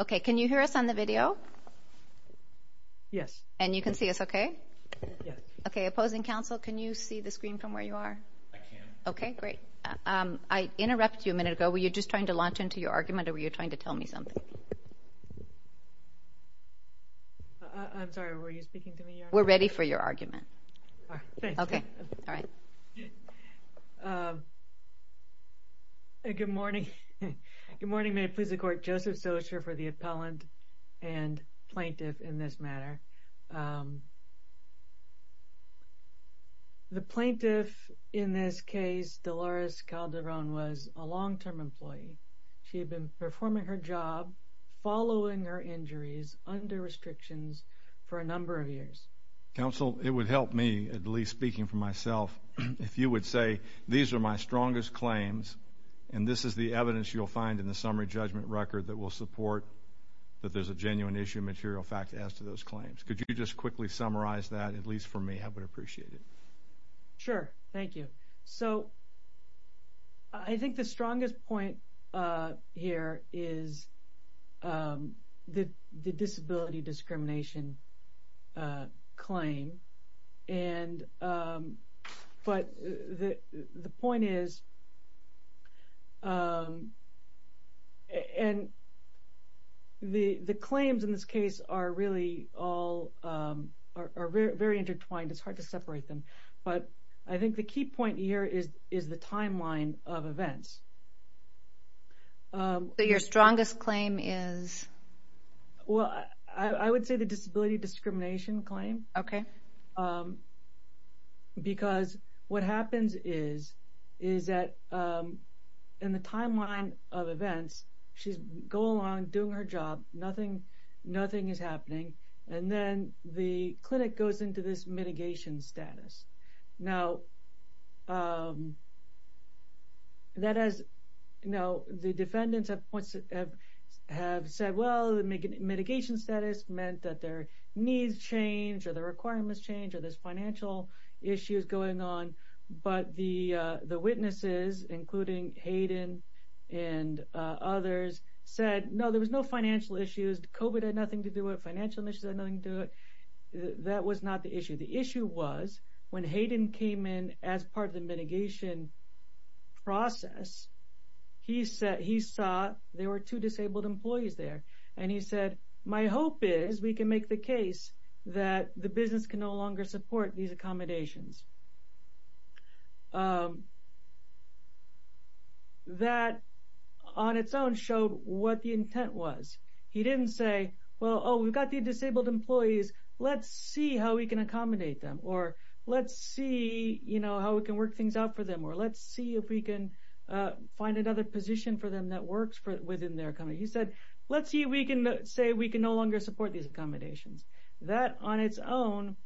Okay, can you hear us on the video? Yes. And you can see us okay? Yes. Okay, opposing counsel, can you see the screen from where you are? I can. Okay, great. I interrupted you a minute ago. Were you just trying to launch into your argument or were you trying to tell me something? I'm sorry, were you speaking to me? We're ready for your argument. All right, thanks. Okay, all right. Good morning. Good morning. May it please the Court. Joseph Socher for the appellant and plaintiff in this matter. The plaintiff in this case, Dolores Calderon, was a long-term employee. She had been performing her job following her injuries under restrictions for a number of years. Counsel, it would help me, at least speaking for myself, if you would say these are my strongest claims and this is the evidence you'll find in the summary judgment record that will support that there's a genuine issue of material fact as to those claims. Could you just quickly summarize that, at least for me? I would appreciate it. Sure, thank you. So I think the strongest point here is the disability discrimination claim. But the point is the claims in this case are really all very intertwined. It's hard to separate them. But I think the key point here is the timeline of events. So your strongest claim is? Well, I would say the disability discrimination claim. Okay. Because what happens is that in the timeline of events, she's going along doing her job, nothing is happening, and then the clinic goes into this mitigation status. So the mitigation status meant that their needs changed or their requirements changed or there's financial issues going on. But the witnesses, including Hayden and others, said, no, there was no financial issues. COVID had nothing to do with it. Financial issues had nothing to do with it. That was not the issue. The issue was when Hayden came in as part of the mitigation process, he saw there were two disabled employees there, and he said, my hope is we can make the case that the business can no longer support these accommodations. That on its own showed what the intent was. He didn't say, well, oh, we've got the disabled employees, let's see how we can accommodate them or let's see, you know, how we can work things out for them or let's see if we can find another position for them that works within their company. He said, let's see if we can say we can no longer support these accommodations. That on its own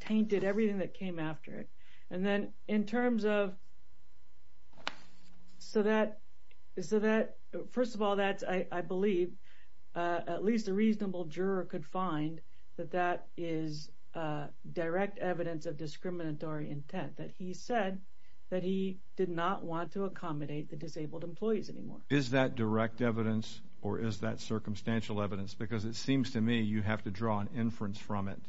tainted everything that came after it. And then in terms of so that, first of all, that's, I believe, at least a reasonable juror could find that that is direct evidence of discriminatory intent, that he said that he did not want to accommodate the disabled employees anymore. Is that direct evidence or is that circumstantial evidence? Because it seems to me you have to draw an inference from it.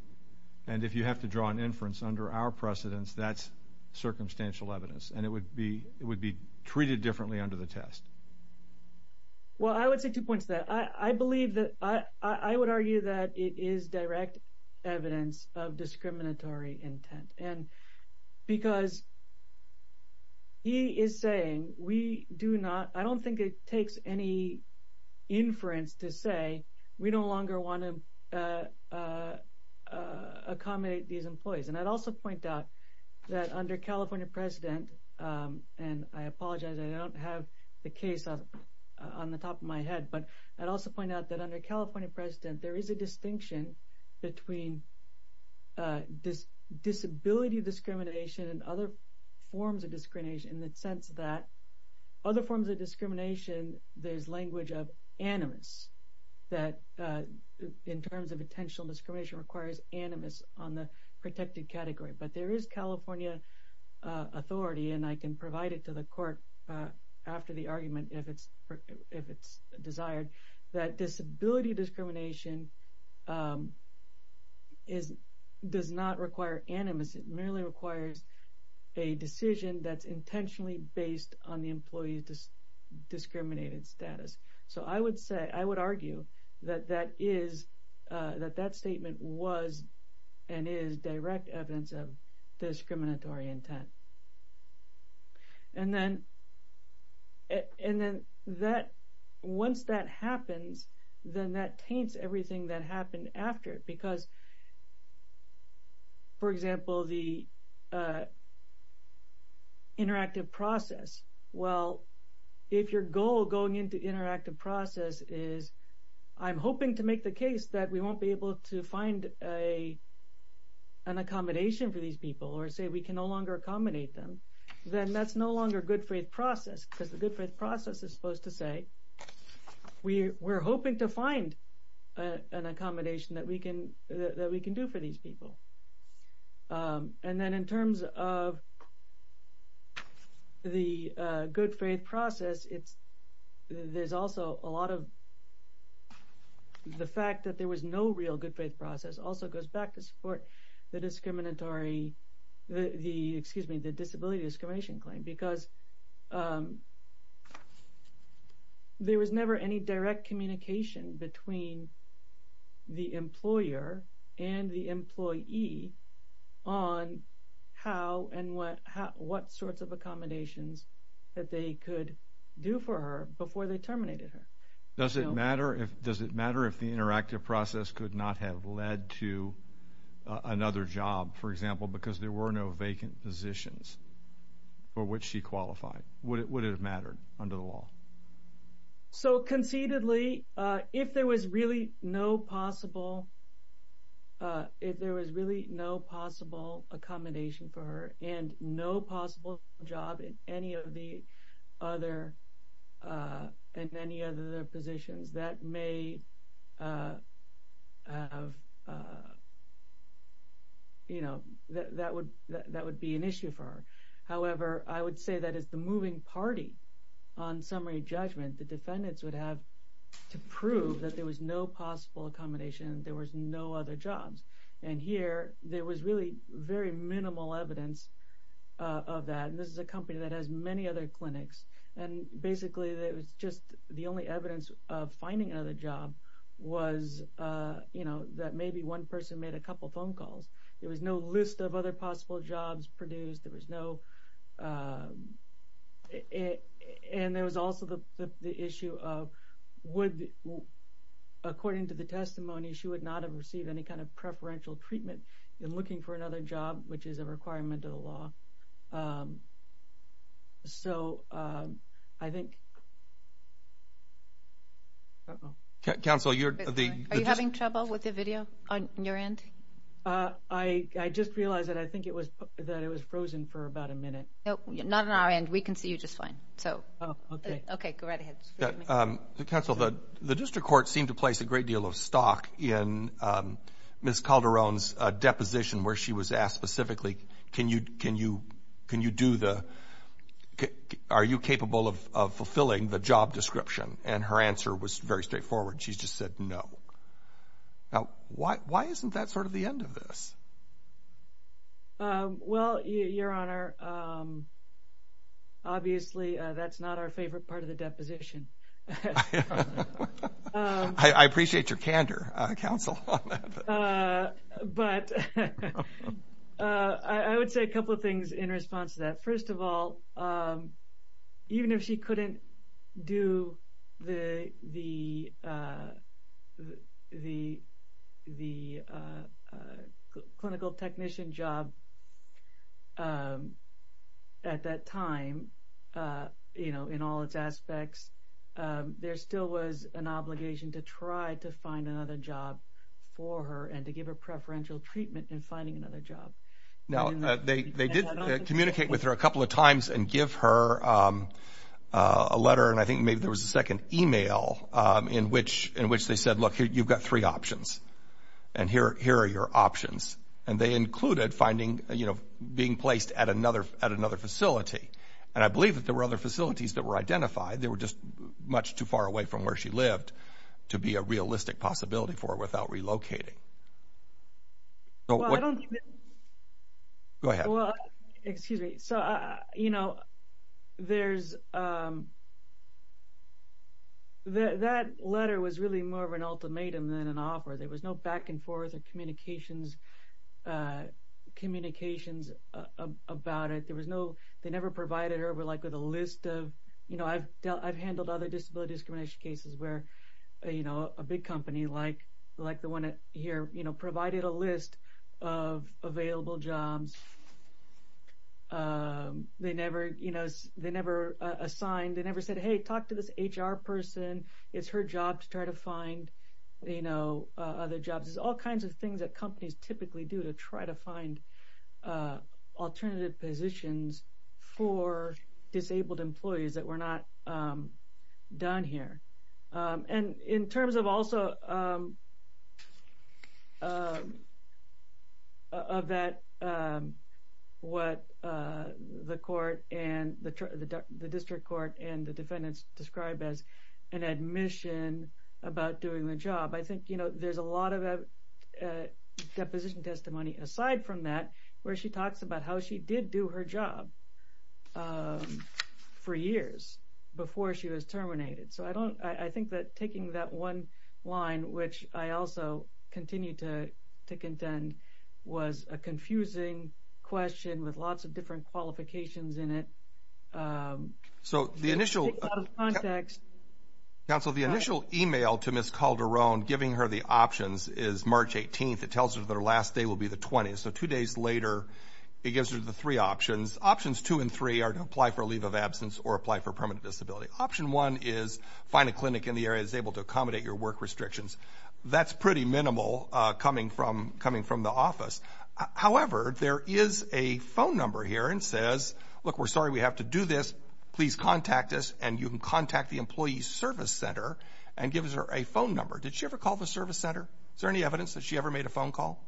And if you have to draw an inference under our precedence, that's circumstantial evidence. And it would be treated differently under the test. Well, I would say two points to that. I believe that I would argue that it is direct evidence of discriminatory intent. Because he is saying we do not, I don't think it takes any inference to say we no longer want to accommodate these employees. And I'd also point out that under California president, and I apologize, I don't have the case on the top of my head, but I'd also point out that under California president, there is a distinction between disability discrimination and other forms of discrimination in the sense that other forms of discrimination, there's language of animus that in terms of attentional discrimination requires animus on the protected category. But there is California authority, and I can provide it to the court after the argument if it's desired, that disability discrimination does not require animus, it merely requires a decision that's intentionally based on the employee's discriminated status. So I would argue that that statement was and is direct evidence of discriminatory intent. And then once that happens, then that taints everything that happened after it because, for example, the interactive process. Well, if your goal going into interactive process is I'm hoping to make the case that we won't be able to find an accommodation for these people or say we can no longer accommodate them, then that's no longer good faith process because the good faith process is supposed to say we're hoping to find an accommodation that we can do for these people. And then in terms of the good faith process, there's also a lot of the fact that there was no real good faith process also goes back to support the disability discrimination claim because there was never any direct communication between the employer and the employee on how and what sorts of accommodations that they could do for her before they terminated her. Does it matter if the interactive process could not have led to another job, for example, because there were no vacant positions for which she qualified? Would it have mattered under the law? So concededly, if there was really no possible accommodation for her and no that would be an issue for her. However, I would say that as the moving party on summary judgment, the defendants would have to prove that there was no possible accommodation, there was no other jobs. And here, there was really very minimal evidence of that. And this is a company that has many other clinics. And basically, it was just the only evidence of finding another job was that maybe one person made a couple phone calls. There was no list of other possible jobs produced. There was no. And there was also the issue of would, according to the testimony, she would not have received any kind of preferential treatment in looking for another job, which is a requirement of the law. So I think. Uh-oh. Counsel, you're the. Are you having trouble with the video on your end? I just realized that I think it was frozen for about a minute. Not on our end. We can see you just fine. Oh, okay. Okay, go right ahead. Counsel, the district court seemed to place a great deal of stock in Ms. Calderon's deposition where she was asked specifically, can you do the, are you capable of fulfilling the job description? And her answer was very straightforward. She just said no. Now, why isn't that sort of the end of this? Well, Your Honor, obviously, that's not our favorite part of the deposition. I appreciate your candor, Counsel. But I would say a couple of things in response to that. First of all, even if she couldn't do the clinical technician job at that time, you know, in all its aspects, there still was an obligation to try to find another job for her and to give her preferential treatment in finding another job. Now, they did communicate with her a couple of times and give her a letter, and I think maybe there was a second email in which they said, look, you've got three options, and here are your options. And they included finding, you know, being placed at another facility. And I believe that there were other facilities that were identified. They were just much too far away from where she lived to be a realistic possibility for her without relocating. Go ahead. Well, excuse me. So, you know, there's – that letter was really more of an ultimatum than an offer. There was no back and forth or communications about it. There was no – they never provided her with, like, a list of – you know, I've handled other disability discrimination cases where, you know, a big company like the one here, you know, provided a list of available jobs. They never, you know, they never assigned – they never said, hey, talk to this HR person. It's her job to try to find, you know, other jobs. It's all kinds of things that companies typically do to try to find alternative positions for disabled employees that were not done here. And in terms of also of that – what the court and – the district court and the defendants described as an admission about doing the job, I think, you know, there's a lot of deposition testimony aside from that where she talks about how she did do her job for years before she was terminated. So I don't – I think that taking that one line, which I also continue to contend, was a confusing question with lots of different qualifications in it. So the initial – It's out of context. Counsel, the initial email to Ms. Calderon giving her the options is March 18th. It tells her that her last day will be the 20th. So two days later, it gives her the three options. Options two and three are to apply for a leave of absence or apply for permanent disability. Option one is find a clinic in the area that's able to accommodate your work restrictions. That's pretty minimal coming from the office. However, there is a phone number here and says, look, we're sorry we have to do this. Please contact us, and you can contact the Employee Service Center and gives her a phone number. Did she ever call the service center? Is there any evidence that she ever made a phone call?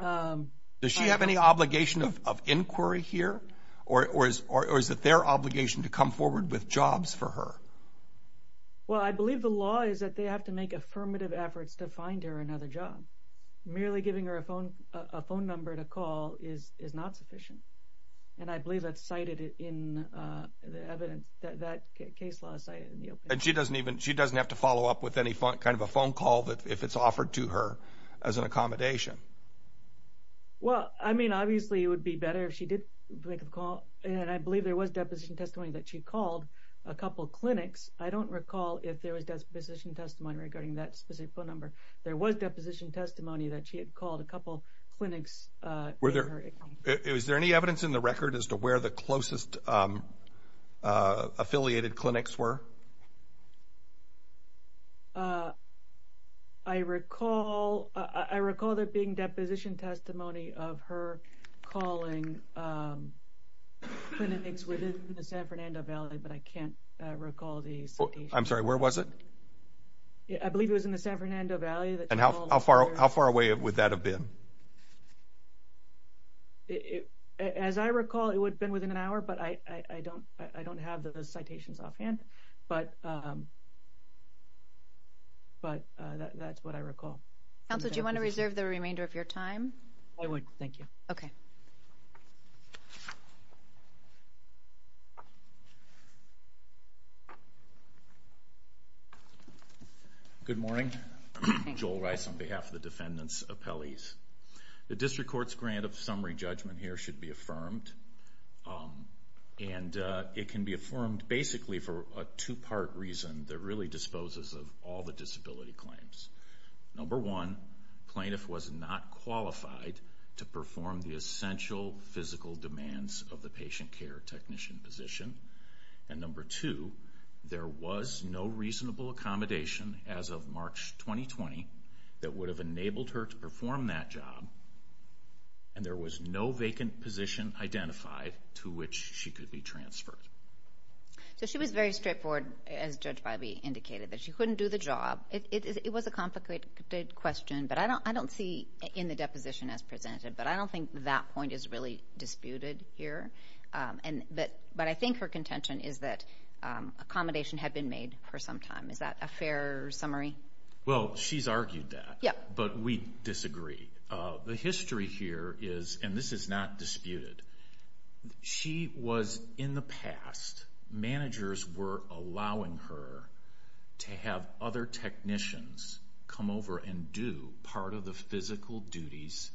Does she have any obligation of inquiry here, or is it their obligation to come forward with jobs for her? Well, I believe the law is that they have to make affirmative efforts to find her another job. Merely giving her a phone number to call is not sufficient, and I believe that's cited in the evidence, that case law is cited in the opinion. And she doesn't have to follow up with any kind of a phone call if it's offered to her as an accommodation? Well, I mean, obviously it would be better if she did make a call, and I believe there was deposition testimony that she called a couple clinics. I don't recall if there was deposition testimony regarding that specific phone number. There was deposition testimony that she had called a couple clinics. Is there any evidence in the record as to where the closest affiliated clinics were? I recall there being deposition testimony of her calling clinics within the San Fernando Valley, but I can't recall the citation. I'm sorry, where was it? I believe it was in the San Fernando Valley. And how far away would that have been? As I recall, it would have been within an hour, but I don't have the citations offhand. But that's what I recall. Counsel, do you want to reserve the remainder of your time? I would, thank you. Okay. Good morning. Joel Rice on behalf of the defendants' appellees. The district court's grant of summary judgment here should be affirmed, and it can be affirmed basically for a two-part reason that really disposes of all the disability claims. Number one, plaintiff was not qualified to perform the essential physical demands of the patient care technician position. And number two, there was no reasonable accommodation as of March 2020 that would have enabled her to perform that job, and there was no vacant position identified to which she could be transferred. So she was very straightforward, as Judge Bybee indicated, that she couldn't do the job. It was a complicated question, but I don't see in the deposition as presented, but I don't think that point is really disputed here. But I think her contention is that accommodation had been made for some time. Is that a fair summary? Well, she's argued that, but we disagree. The history here is, and this is not disputed, she was in the past, managers were allowing her to have other technicians come over and do part of the physical duties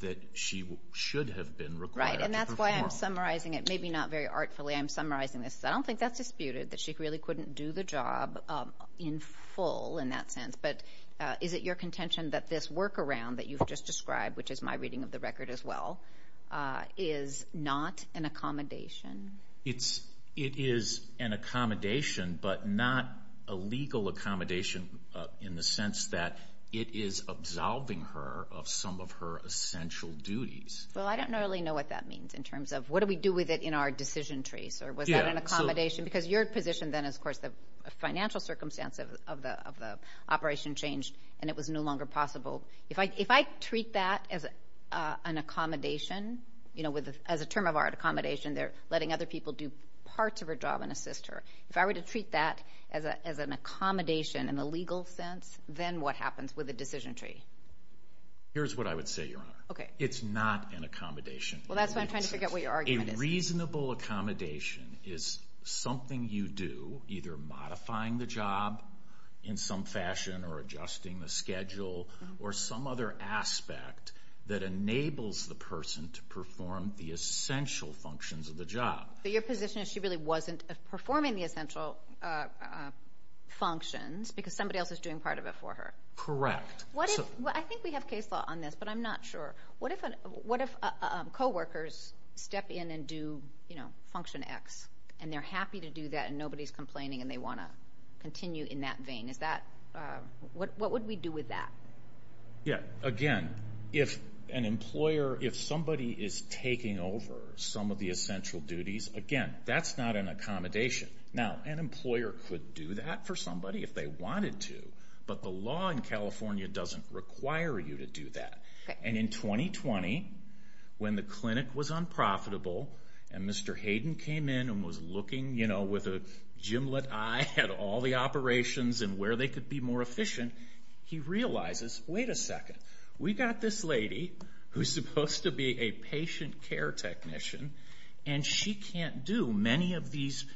that she should have been required to perform. Right, and that's why I'm summarizing it, maybe not very artfully, I'm summarizing this. I don't think that's disputed, that she really couldn't do the job in full in that sense. But is it your contention that this workaround that you've just described, which is my reading of the record as well, is not an accommodation? It is an accommodation, but not a legal accommodation in the sense that it is absolving her of some of her essential duties. Well, I don't really know what that means in terms of, what do we do with it in our decision trees, or was that an accommodation? Because your position then is, of course, the financial circumstance of the operation changed and it was no longer possible. If I treat that as an accommodation, as a term of our accommodation, they're letting other people do parts of her job and assist her. If I were to treat that as an accommodation in the legal sense, then what happens with the decision tree? Here's what I would say, Your Honor. Okay. It's not an accommodation. Well, that's why I'm trying to figure out what your argument is. A reasonable accommodation is something you do, either modifying the job in some fashion or adjusting the schedule or some other aspect that enables the person to perform the essential functions of the job. But your position is she really wasn't performing the essential functions because somebody else is doing part of it for her. Correct. I think we have case law on this, but I'm not sure. What if coworkers step in and do function X and they're happy to do that and nobody's complaining and they want to continue in that vein? What would we do with that? Again, if somebody is taking over some of the essential duties, again, that's not an accommodation. Now, an employer could do that for somebody if they wanted to, but the law in California doesn't require you to do that. And in 2020, when the clinic was unprofitable and Mr. Hayden came in and was looking with a gimlet eye at all the operations and where they could be more efficient, he realizes, wait a second, we've got this lady who's supposed to be a patient care technician and she can't do many of these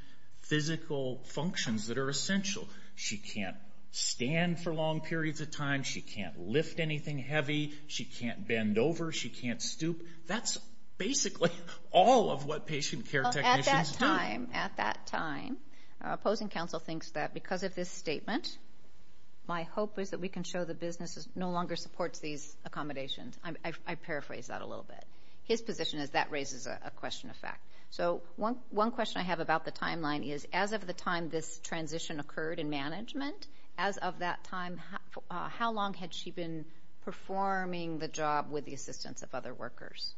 physical functions that are essential. She can't stand for long periods of time. She can't lift anything heavy. She can't bend over. She can't stoop. That's basically all of what patient care technicians do. At that time, opposing counsel thinks that because of this statement, my hope is that we can show the business no longer supports these accommodations. I paraphrase that a little bit. His position is that raises a question of fact. So one question I have about the timeline is, as of the time this transition occurred in management, as of that time, how long had she been performing the job with the assistance of other workers?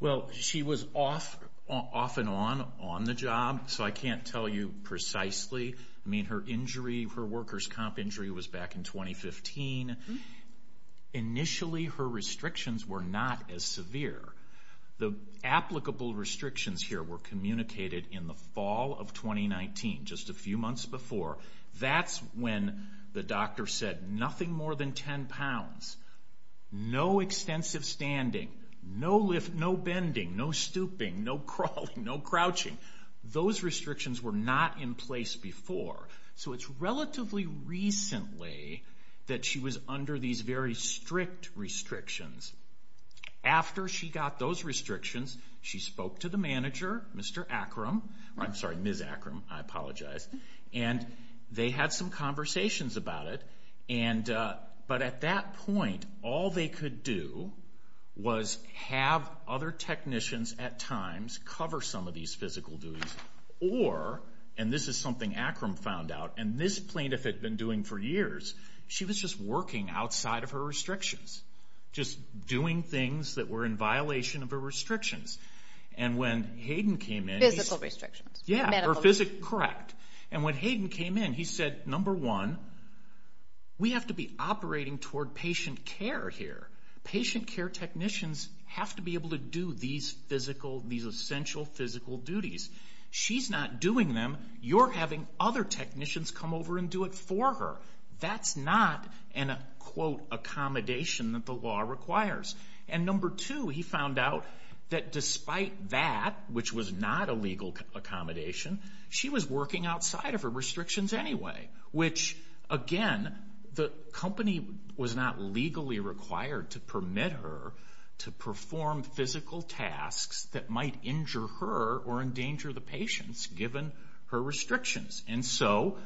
Well, she was off and on on the job, so I can't tell you precisely. I mean, her workers' comp injury was back in 2015. Initially, her restrictions were not as severe. The applicable restrictions here were communicated in the fall of 2019, just a few months before. That's when the doctor said nothing more than 10 pounds, no extensive standing, no bending, no stooping, no crawling, no crouching. Those restrictions were not in place before. So it's relatively recently that she was under these very strict restrictions. After she got those restrictions, she spoke to the manager, Mr. Akram. I'm sorry, Ms. Akram. I apologize. And they had some conversations about it. But at that point, all they could do was have other technicians at times cover some of these physical duties. Or, and this is something Akram found out, and this plaintiff had been doing for years, she was just working outside of her restrictions, just doing things that were in violation of her restrictions. And when Hayden came in... Physical restrictions. Correct. And when Hayden came in, he said, number one, we have to be operating toward patient care here. Patient care technicians have to be able to do these essential physical duties. She's not doing them. You're having other technicians come over and do it for her. That's not an, quote, accommodation that the law requires. And number two, he found out that despite that, which was not a legal accommodation, she was working outside of her restrictions anyway, which, again, the company was not legally required to permit her to perform physical tasks that might injure her or endanger the patients, given her restrictions. And so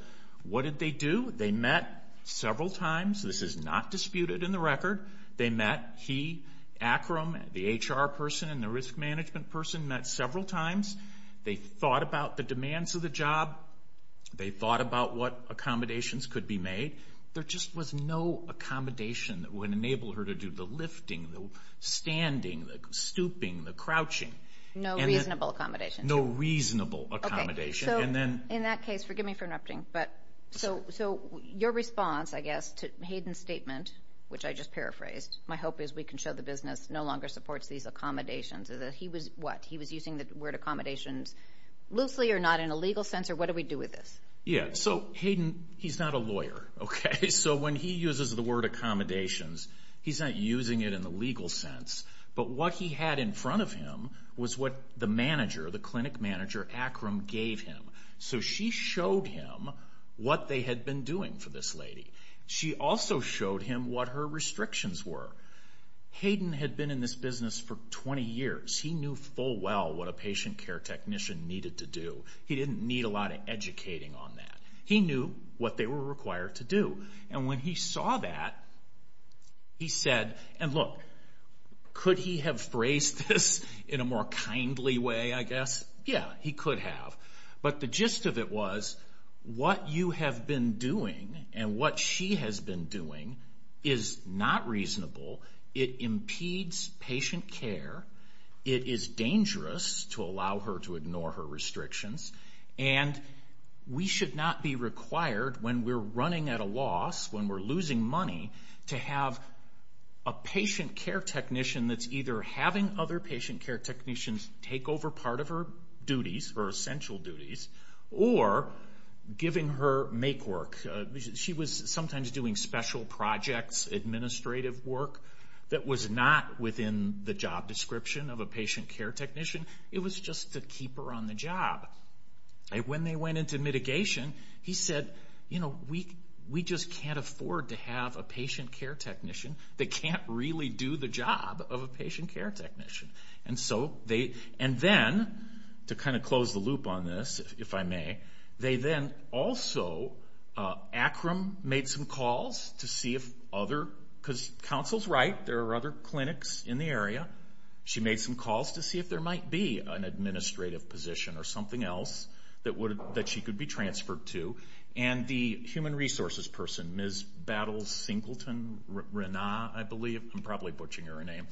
what did they do? They met several times. This is not disputed in the record. They met. He, Akram, the HR person and the risk management person met several times. They thought about the demands of the job. They thought about what accommodations could be made. There just was no accommodation that would enable her to do the lifting, the standing, the stooping, the crouching. No reasonable accommodation. Okay, so in that case, forgive me for interrupting, but so your response, I guess, to Hayden's statement, which I just paraphrased, my hope is we can show the business no longer supports these accommodations, is that he was what? He was using the word accommodations loosely or not in a legal sense, or what do we do with this? Yeah, so Hayden, he's not a lawyer, okay? So when he uses the word accommodations, he's not using it in the legal sense. But what he had in front of him was what the manager, the clinic manager, Akram, gave him. So she showed him what they had been doing for this lady. She also showed him what her restrictions were. Hayden had been in this business for 20 years. He knew full well what a patient care technician needed to do. He didn't need a lot of educating on that. He knew what they were required to do. And when he saw that, he said, and look, could he have phrased this in a more kindly way, I guess? Yeah, he could have. But the gist of it was what you have been doing and what she has been doing is not reasonable. It impedes patient care. It is dangerous to allow her to ignore her restrictions. And we should not be required when we're running at a loss, when we're losing money, to have a patient care technician that's either having other patient care technicians take over part of her duties, her essential duties, or giving her make work. She was sometimes doing special projects, administrative work, that was not within the job description of a patient care technician. It was just to keep her on the job. And when they went into mitigation, he said, you know, we just can't afford to have a patient care technician that can't really do the job of a patient care technician. And so they, and then, to kind of close the loop on this, if I may, they then also, Akram made some calls to see if other, because counsel's right, there are other clinics in the area. She made some calls to see if there might be an administrative position or something else that she could be transferred to. And the human resources person, Ms. Battles-Singleton, Rana, I believe, I'm probably butchering her name,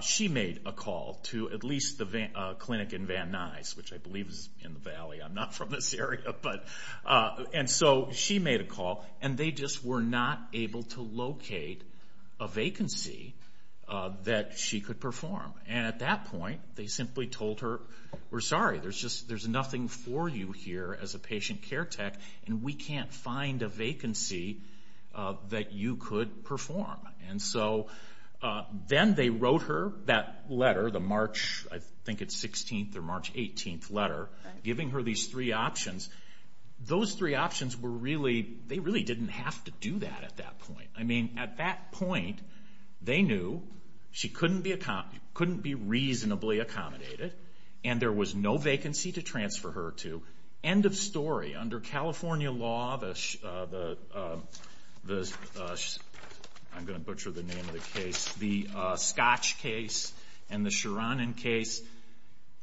she made a call to at least the clinic in Van Nuys, which I believe is in the valley. I'm not from this area. And so she made a call, and they just were not able to locate a vacancy that she could perform. And at that point, they simply told her, we're sorry, there's nothing for you here as a patient care tech, and we can't find a vacancy that you could perform. And so then they wrote her that letter, the March, I think it's 16th or March 18th letter, giving her these three options. Those three options were really, they really didn't have to do that at that point. I mean, at that point, they knew she couldn't be reasonably accommodated, and there was no vacancy to transfer her to. End of story. Under California law, I'm going to butcher the name of the case, the Scotch case and the Charanen case,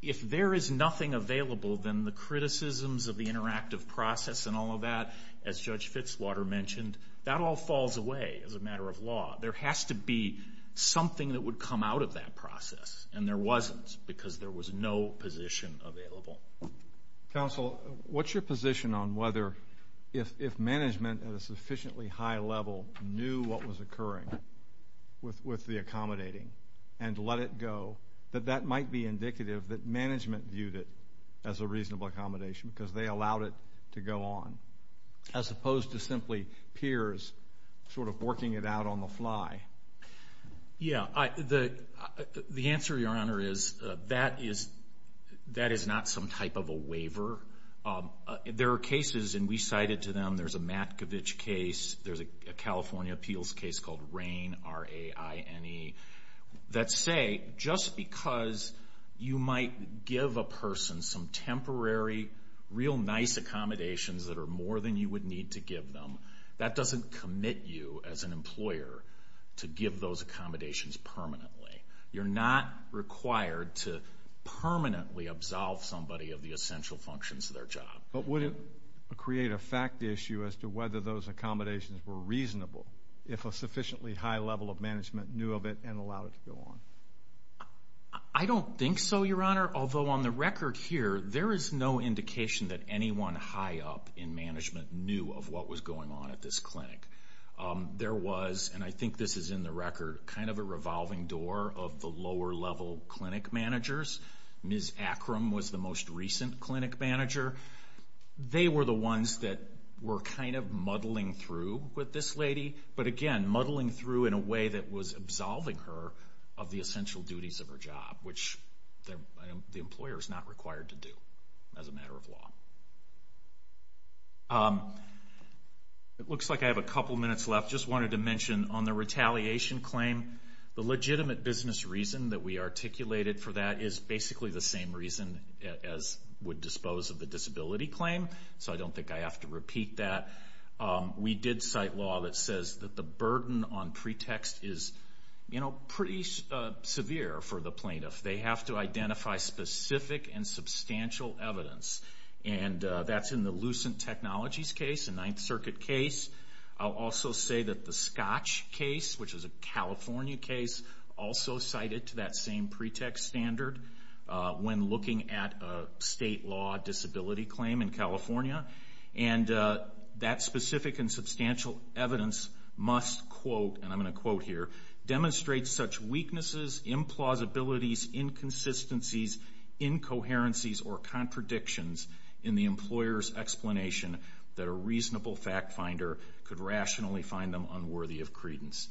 if there is nothing available, then the criticisms of the interactive process and all of that, as Judge Fitzwater mentioned, that all falls away as a matter of law. There has to be something that would come out of that process, and there wasn't because there was no position available. Counsel, what's your position on whether if management at a sufficiently high level knew what was occurring with the accommodating and let it go, that that might be indicative that management viewed it as a reasonable accommodation because they allowed it to go on, as opposed to simply peers sort of working it out on the fly? Yeah. The answer, Your Honor, is that is not some type of a waiver. There are cases, and we cited to them, there's a Matkovich case, there's a California appeals case called Raine, R-A-I-N-E, that say just because you might give a person some temporary real nice accommodations that are more than you would need to give them, that doesn't commit you as an employer to give those accommodations permanently. You're not required to permanently absolve somebody of the essential functions of their job. But would it create a fact issue as to whether those accommodations were reasonable if a sufficiently high level of management knew of it and allowed it to go on? I don't think so, Your Honor, although on the record here, there is no indication that anyone high up in management knew of what was going on at this clinic. There was, and I think this is in the record, kind of a revolving door of the lower level clinic managers. Ms. Akram was the most recent clinic manager. They were the ones that were kind of muddling through with this lady, but again muddling through in a way that was absolving her of the essential duties of her job, which the employer is not required to do as a matter of law. It looks like I have a couple minutes left. I just wanted to mention on the retaliation claim, the legitimate business reason that we articulated for that is basically the same reason as would dispose of the disability claim, so I don't think I have to repeat that. We did cite law that says that the burden on pretext is pretty severe for the plaintiff. They have to identify specific and substantial evidence, and that's in the Lucent Technologies case, the Ninth Circuit case. I'll also say that the Scotch case, which is a California case, also cited to that same pretext standard when looking at a state law disability claim in California, and that specific and substantial evidence must quote, and I'm going to quote here, demonstrate such weaknesses, implausibilities, inconsistencies, incoherencies, or contradictions in the employer's explanation that a reasonable fact finder could rationally find them unworthy of credence.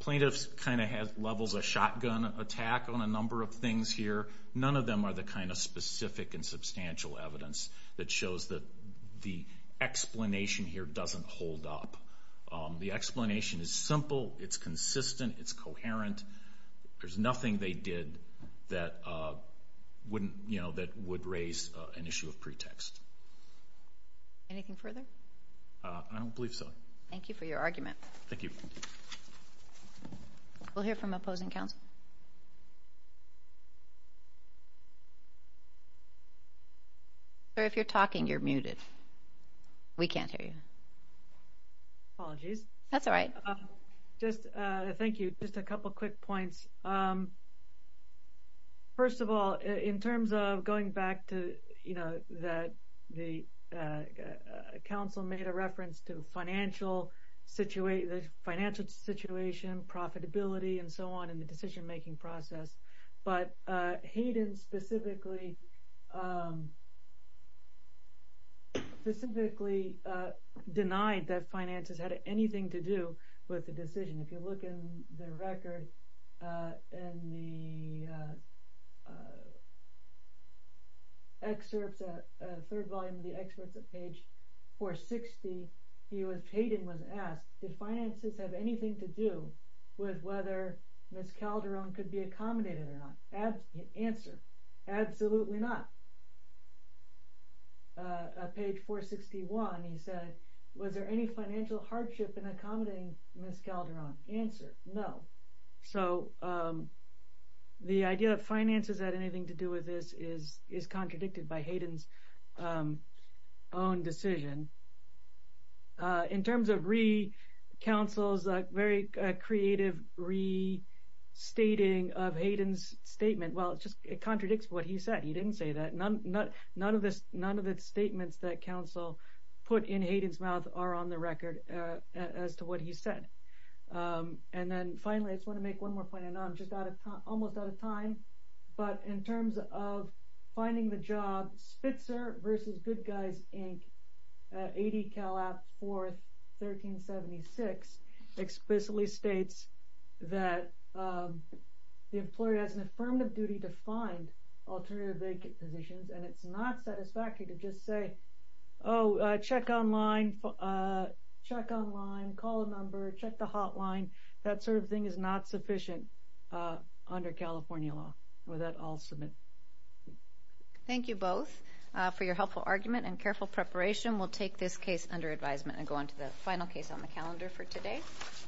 Plaintiffs kind of have levels of shotgun attack on a number of things here. None of them are the kind of specific and substantial evidence that shows that the explanation here doesn't hold up. The explanation is simple. It's consistent. It's coherent. There's nothing they did that would raise an issue of pretext. Anything further? I don't believe so. Thank you for your argument. Thank you. We'll hear from opposing counsel. If you're talking, you're muted. We can't hear you. Apologies. That's all right. Thank you. Just a couple quick points. First of all, in terms of going back to, you know, that the counsel made a reference to financial situation, profitability, and so on in the decision-making process. But Hayden specifically denied that finances had anything to do with the decision. If you look in the record, in the third volume of the excerpts at page 460, Hayden was asked, did finances have anything to do with whether Ms. Calderon could be accommodated or not? Answer, absolutely not. Page 461, he said, was there any financial hardship in accommodating Ms. Calderon? Answer, no. So the idea that finances had anything to do with this is contradicted by Hayden's own decision. In terms of re-counsel's very creative restating of Hayden's statement, well, it just contradicts what he said. He didn't say that. None of the statements that counsel put in Hayden's mouth are on the record as to what he said. And then, finally, I just want to make one more point. I know I'm almost out of time, but in terms of finding the job, Spitzer v. Good Guys, Inc., and it's not satisfactory to just say, oh, check online, call a number, check the hotline. That sort of thing is not sufficient under California law. With that, I'll submit. Thank you both for your helpful argument and careful preparation. We'll take this case under advisement and go on to the final case on the calendar for today.